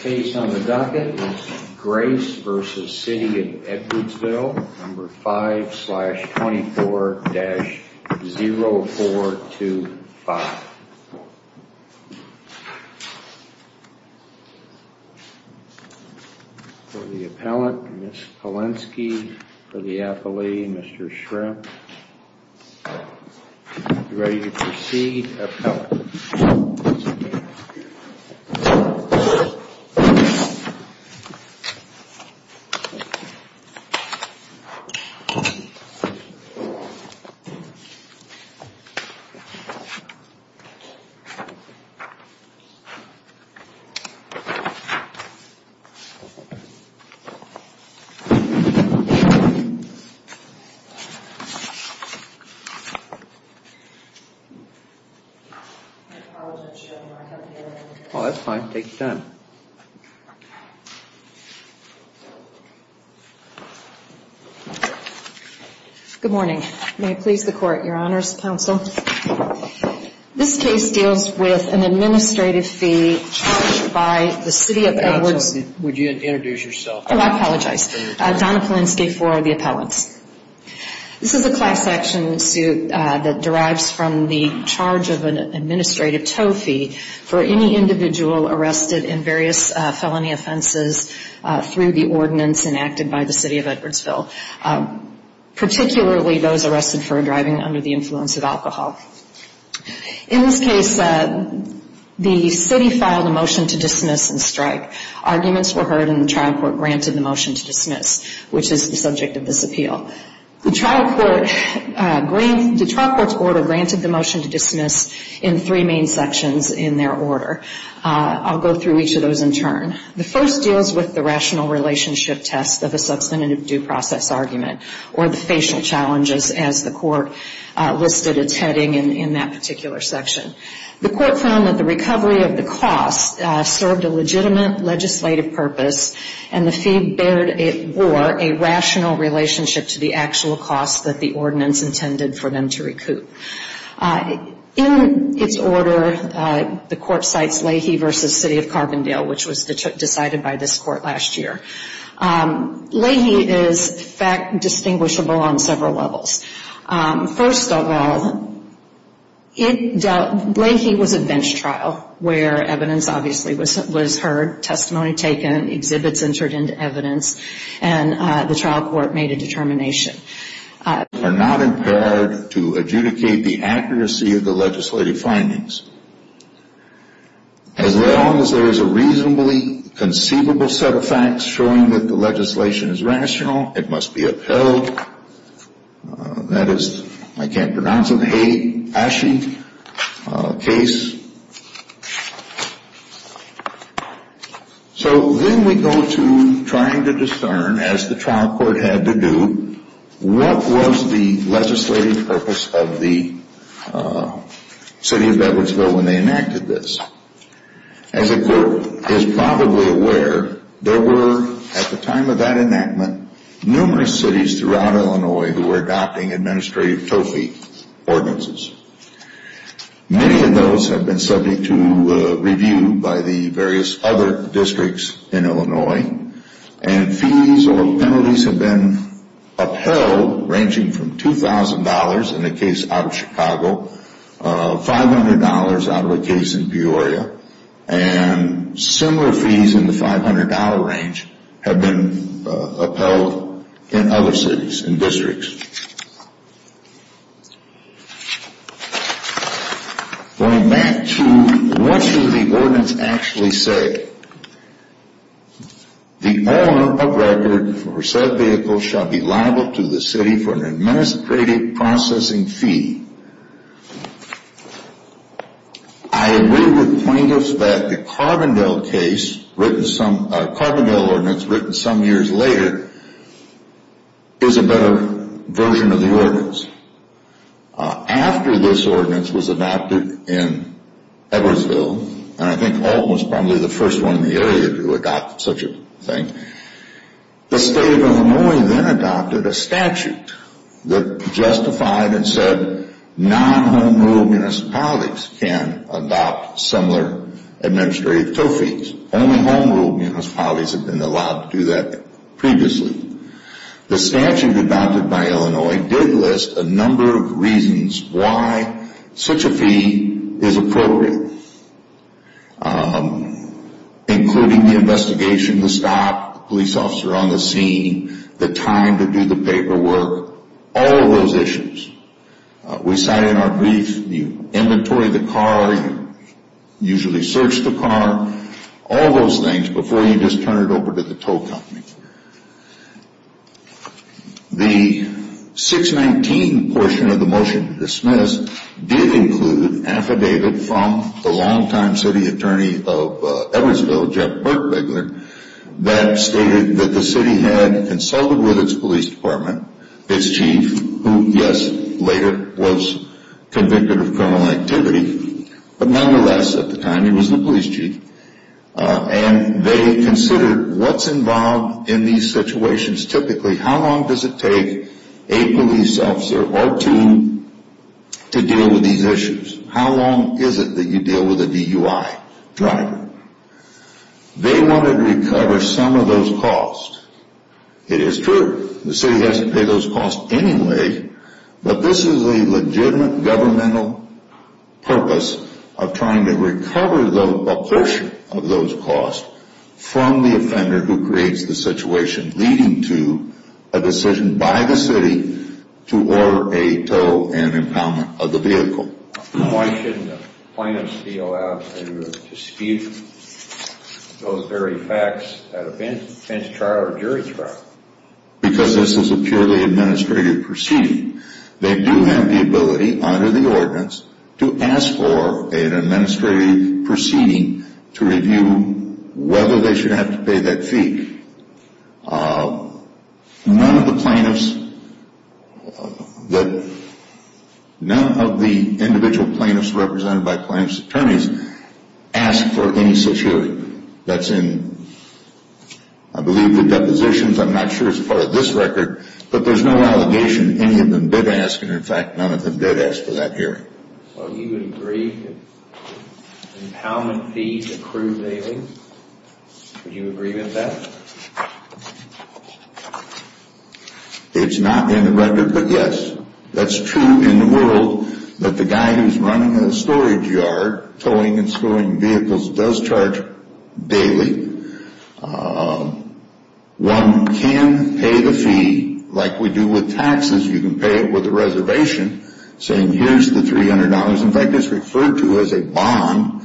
Case on the docket, Grace v. City of Edwardsville, No. 5-24-0425. For the appellant, Ms. Polenski. For the appellee, Mr. Shrimp. Ready to proceed. Oh, that's fine, take your time. Good morning, may it please the court, your honors, counsel, this case deals with an administrative fee charged by the city of Edwardsville. Counsel, would you introduce yourself? Oh, I apologize, Donna Polenski for the appellants. This is a class action suit that derives from the charge of an administrative tow fee for any individual arrested in various felony offenses through the ordinance enacted by the city of Edwardsville, particularly those arrested for driving under the influence of alcohol. In this case, the city filed a motion to dismiss and strike. Arguments were heard and the trial court granted the motion to dismiss, which is the subject of this appeal. The trial court's order granted the motion to dismiss in three main sections in their order. I'll go through each of those in turn. The first deals with the rational relationship test of a substantive due process argument or the facial challenges as the court listed its heading in that particular section. The court found that the recovery of the cost served a legitimate legislative purpose and the fee bore a rational relationship to the actual cost that the ordinance intended for them to recoup. In its order, the court cites Leahy v. City of Carbondale, which was decided by this court last year. Leahy is fact distinguishable on several levels. First of all, Leahy was a bench trial where evidence obviously was heard, testimony taken, exhibits entered into evidence, and the trial court made a determination. ...are not impaired to adjudicate the accuracy of the legislative findings. As long as there is a reasonably conceivable set of facts showing that the legislation is rational, it must be upheld. That is, I can't pronounce it, a case. So then we go to trying to discern, as the trial court had to do, what was the legislative purpose of the City of Edwardsville when they enacted this. As the court is probably aware, there were, at the time of that enactment, numerous cities throughout Illinois who were adopting administrative TOFI ordinances. Many of those have been subject to review by the various other districts in Illinois, and fees or penalties have been upheld ranging from $2,000 in a case out of Chicago, $500 out of a case in Peoria, and similar fees in the $500 range have been upheld in other cities and districts. Going back to what should the ordinance actually say? The owner of record for said vehicle shall be liable to the city for an administrative processing fee. I agree with plaintiffs that the Carbondale ordinance, written some years later, is a better version of the ordinance. After this ordinance was adopted in Edwardsville, and I think Ault was probably the first one in the area to adopt such a thing, the State of Illinois then adopted a statute that justified and said non-home-ruled municipalities can adopt similar administrative TOFIs. Only home-ruled municipalities have been allowed to do that previously. The statute adopted by Illinois did list a number of reasons why such a fee is appropriate, including the investigation, the stop, the police officer on the scene, the time to do the paperwork, all of those issues. We cite in our brief, you inventory the car, you usually search the car, all those things before you just turn it over to the tow company. The 619 portion of the motion to dismiss did include, affidavit from the long-time city attorney of Edwardsville, Jeff Berkbegler, that stated that the city had consulted with its police department, its chief, who yes, later was convicted of criminal activity, but nonetheless, at the time he was the police chief, and they considered what's involved in these situations. Typically, how long does it take a police officer or two to deal with these issues? How long is it that you deal with a DUI driver? They wanted to recover some of those costs. It is true, the city has to pay those costs anyway, but this is a legitimate governmental purpose of trying to recover a portion of those costs from the offender who creates the situation, leading to a decision by the city to order a tow and impoundment of the vehicle. Why shouldn't the plaintiffs be allowed to dispute those very facts at a bench trial or jury trial? Because this is a purely administrative proceeding. They do have the ability, under the ordinance, to ask for an administrative proceeding to review whether they should have to pay that fee. None of the plaintiffs, none of the individual plaintiffs represented by plaintiff's attorneys asked for any such hearing. That's in, I believe, the depositions, I'm not sure it's part of this record, but there's no allegation any of them did ask, and in fact, none of them did ask for that hearing. So you would agree that impoundment fees accrue daily? Would you agree with that? It's not in the record, but yes. That's true in the world that the guy who's running a storage yard, towing and storing vehicles, does charge daily. One can pay the fee like we do with taxes. You can pay it with a reservation, saying here's the $300. In fact, it's referred to as a bond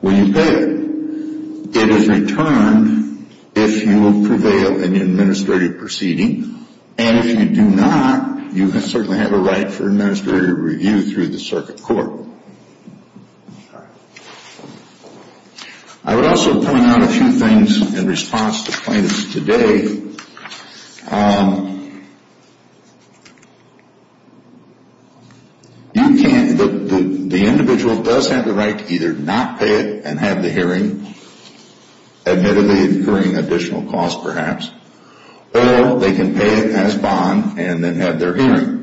when you pay it. It is returned if you prevail in the administrative proceeding, and if you do not, you certainly have a right for administrative review through the circuit court. I would also point out a few things in response to plaintiffs today. You can't, the individual does have the right to either not pay it and have the hearing, admittedly incurring additional costs perhaps, or they can pay it as bond and then have their hearing.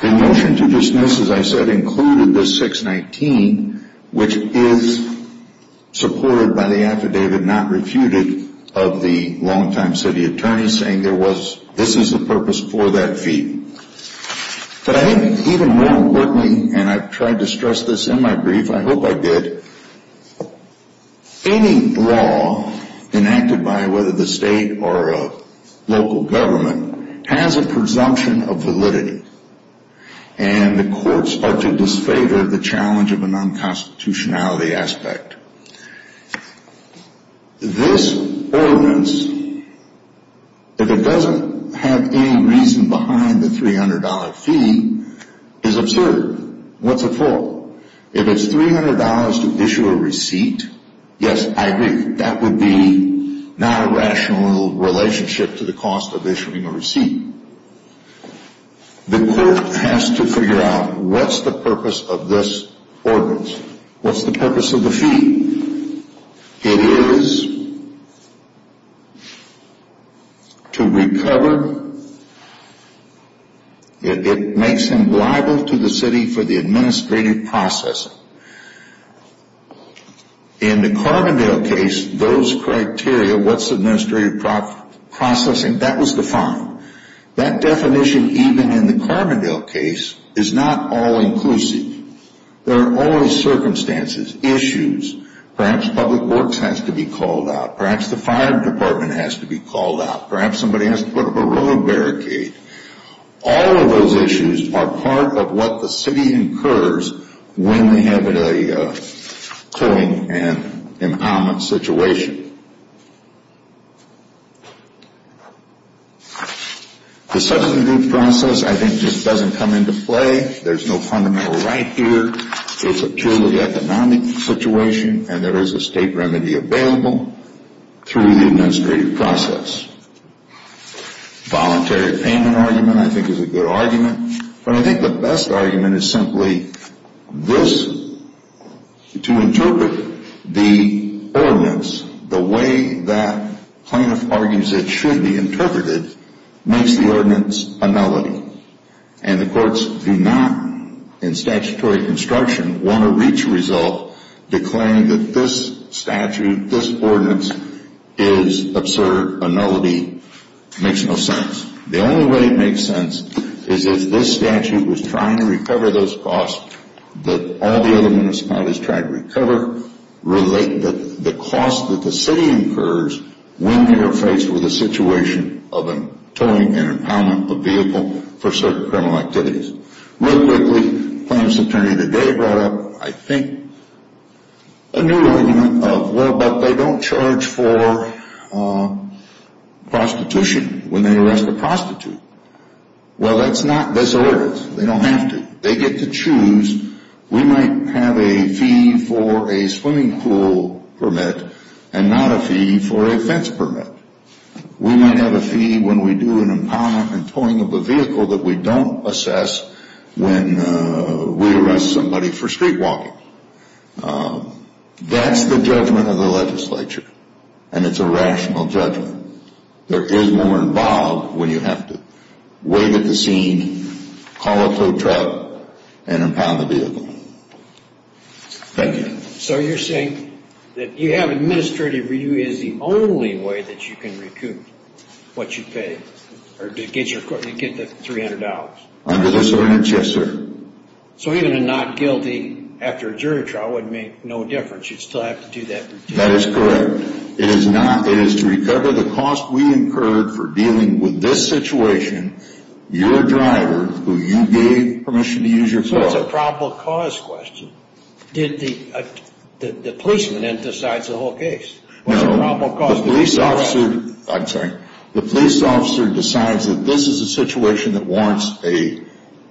The motion to dismiss, as I said, included this 619, which is supported by the affidavit not refuted of the long-time city attorney, saying there was, this is the purpose for that fee. But I think even more importantly, and I've tried to stress this in my brief, I hope I did, any law enacted by whether the state or local government has a presumption of validity, and the courts are to disfavor the challenge of a non-constitutionality aspect. This ordinance, if it doesn't have any reason behind the $300 fee, is absurd. What's it for? If it's $300 to issue a receipt, yes, I agree, that would be not a rational relationship to the cost of issuing a receipt. The court has to figure out what's the purpose of this ordinance. What's the purpose of the fee? It is to recover, it makes them liable to the city for the administrative processing. In the Carbondale case, those criteria, what's administrative processing, that was defined. That definition, even in the Carbondale case, is not all-inclusive. There are always circumstances, issues. Perhaps public works has to be called out. Perhaps the fire department has to be called out. Perhaps somebody has to put up a road barricade. All of those issues are part of what the city incurs when they have a towing and an omment situation. The substantive process, I think, just doesn't come into play. There's no fundamental right here. It's a purely economic situation, and there is a state remedy available through the administrative process. Voluntary payment argument, I think, is a good argument. But I think the best argument is simply this. To interpret the ordinance the way that plaintiff argues it should be interpreted makes the ordinance a melody. And the courts do not, in statutory construction, want to reach a result to claim that this statute, this ordinance is absurd, a melody, makes no sense. The only way it makes sense is if this statute was trying to recover those costs that all the other municipalities try to recover, relate the cost that the city incurs when they are faced with a situation of a towing and an omment of vehicle for certain criminal activities. Real quickly, the plaintiff's attorney today brought up, I think, a new argument of, well, but they don't charge for prostitution when they arrest a prostitute. Well, that's not this ordinance. They don't have to. They get to choose. We might have a fee for a swimming pool permit and not a fee for a fence permit. We might have a fee when we do an ompound and towing of a vehicle that we don't assess when we arrest somebody for street walking. That's the judgment of the legislature, and it's a rational judgment. There is more involved when you have to wait at the scene, call a tow truck, and impound the vehicle. Thank you. So you're saying that you have administrative review as the only way that you can recoup what you paid, or to get the $300? Under this ordinance, yes, sir. So even a not guilty after a jury trial would make no difference. You'd still have to do that review. That is correct. It is to recover the cost we incurred for dealing with this situation, your driver, who you gave permission to use your car. So it's a probable cause question. The policeman then decides the whole case. No, the police officer decides that this is a situation that warrants a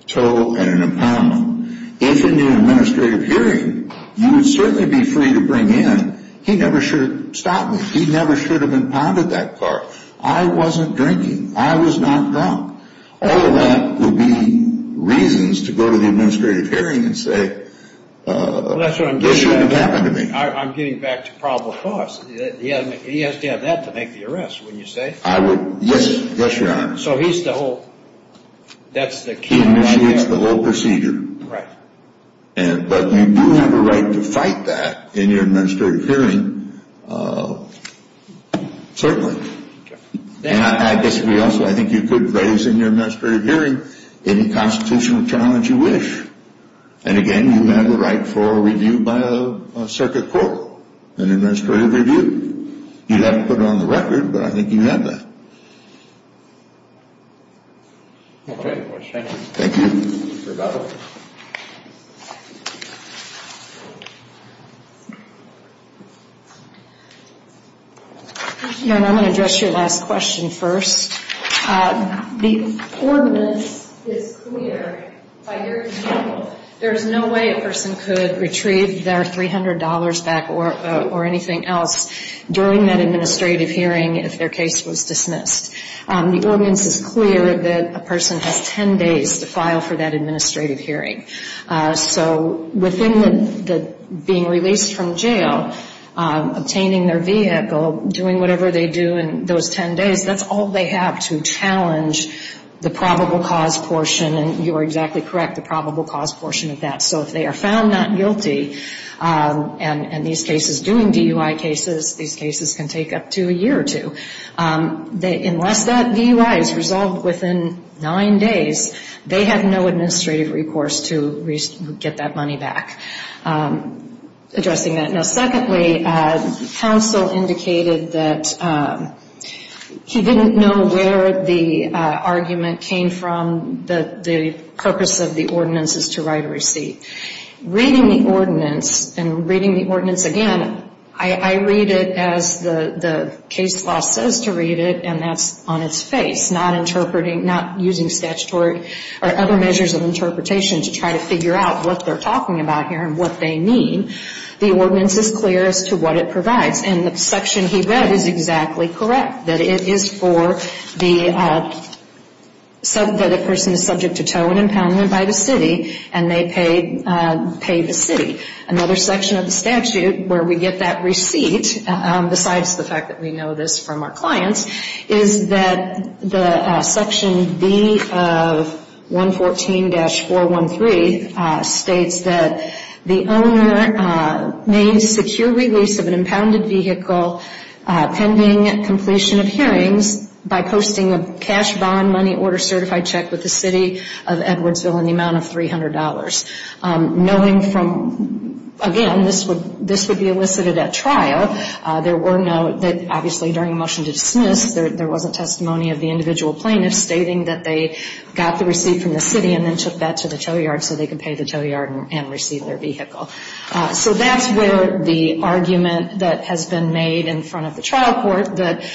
tow and an impoundment. If in the administrative hearing, you would certainly be free to bring in, he never should have stopped me. He never should have impounded that car. I wasn't drinking. I was not drunk. All of that would be reasons to go to the administrative hearing and say, this shouldn't have happened to me. I'm getting back to probable cause. He has to have that to make the arrest, wouldn't you say? Yes, Your Honor. So he's the whole, that's the key right there? He initiates the whole procedure. Right. But you do have a right to fight that in your administrative hearing, certainly. And I disagree also. I think you could raise in your administrative hearing any constitutional challenge you wish. And, again, you have a right for a review by a circuit court, an administrative review. You'd have to put it on the record, but I think you have that. Okay. Thank you. Rebecca. Your Honor, I'm going to address your last question first. The ordinance is clear by your example. There is no way a person could retrieve their $300 back or anything else during that administrative hearing if their case was dismissed. The ordinance is clear that a person has 10 days to file for that administrative hearing. So within the being released from jail, obtaining their vehicle, doing whatever they do in those 10 days, that's all they have to challenge the probable cause portion. And you are exactly correct, the probable cause portion of that. So if they are found not guilty and these cases, doing DUI cases, these cases can take up to a year or two. Unless that DUI is resolved within nine days, they have no administrative recourse to get that money back. Addressing that. Secondly, counsel indicated that he didn't know where the argument came from. The purpose of the ordinance is to write a receipt. Reading the ordinance and reading the ordinance again, I read it as the case law says to read it, and that's on its face. Not interpreting, not using statutory or other measures of interpretation to try to figure out what they're talking about here and what they mean. The ordinance is clear as to what it provides, and the section he read is exactly correct. That it is for the, that a person is subject to tow and impoundment by the city, and they pay the city. Another section of the statute where we get that receipt, besides the fact that we know this from our clients, is that the section B of 114-413 states that the owner may secure release of an impounded vehicle pending completion of hearings by posting a cash bond money order certified check with the city of Edwardsville in the amount of $300. Knowing from, again, this would be elicited at trial. There were no, obviously during motion to dismiss, there wasn't testimony of the individual plaintiff stating that they got the receipt from the city and then took that to the tow yard so they could pay the tow yard and receive their vehicle. So that's where the argument that has been made in front of the trial court, that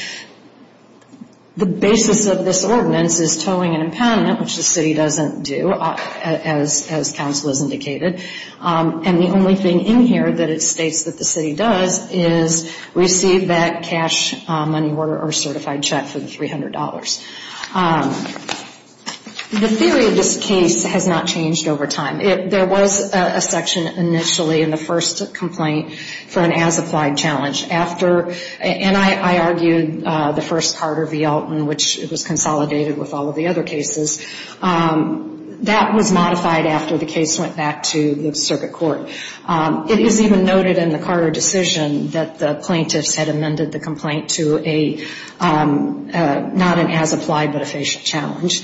the basis of this ordinance is towing and impoundment, which the city doesn't do, as counsel has indicated. And the only thing in here that it states that the city does is receive that cash money order or certified check for the $300. The theory of this case has not changed over time. There was a section initially in the first complaint for an as-applied challenge. After, and I argued the first Carter v. Elton, which was consolidated with all of the other cases. That was modified after the case went back to the circuit court. It is even noted in the Carter decision that the plaintiffs had amended the complaint to not an as-applied but a facial challenge.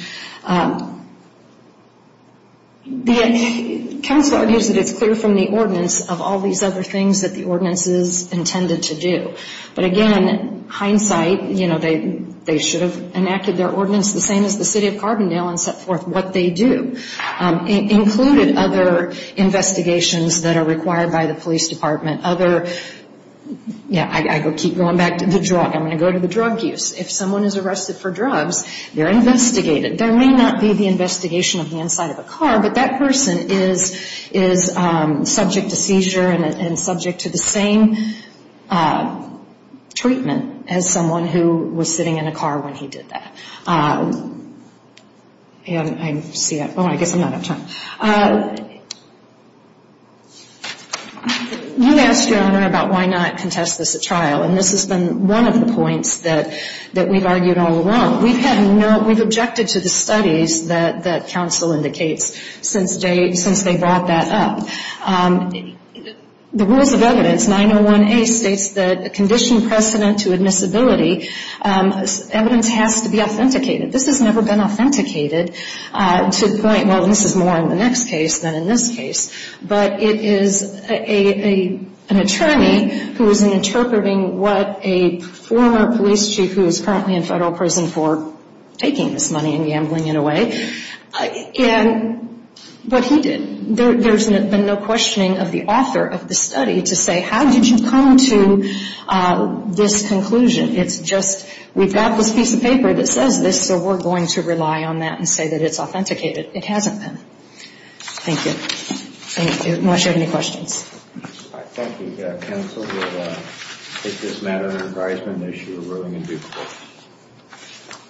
The counsel argues that it's clear from the ordinance of all these other things that the ordinance is intended to do. But again, hindsight, you know, they should have enacted their ordinance the same as the city of Carbondale and set forth what they do. It included other investigations that are required by the police department. Other, yeah, I keep going back to the drug. I'm going to go to the drug use. If someone is arrested for drugs, they're investigated. There may not be the investigation of the inside of a car, but that person is subject to seizure and subject to the same treatment as someone who was sitting in a car when he did that. And I see that. Oh, I guess I'm out of time. You asked, Your Honor, about why not contest this at trial, and this has been one of the points that we've argued all along. We've objected to the studies that counsel indicates since they brought that up. The rules of evidence, 901A, states that a conditioned precedent to admissibility, evidence has to be authenticated. This has never been authenticated to the point, well, this is more in the next case than in this case. But it is an attorney who is interpreting what a former police chief who is currently in federal prison for taking this money and gambling it away, but he did. There's been no questioning of the author of the study to say, how did you come to this conclusion? It's just we've got this piece of paper that says this, so we're going to rely on that and say that it's authenticated. It hasn't been. Thank you. Thank you. Unless you have any questions. Thank you, counsel. We'll take this matter under advisement and issue a ruling in due course.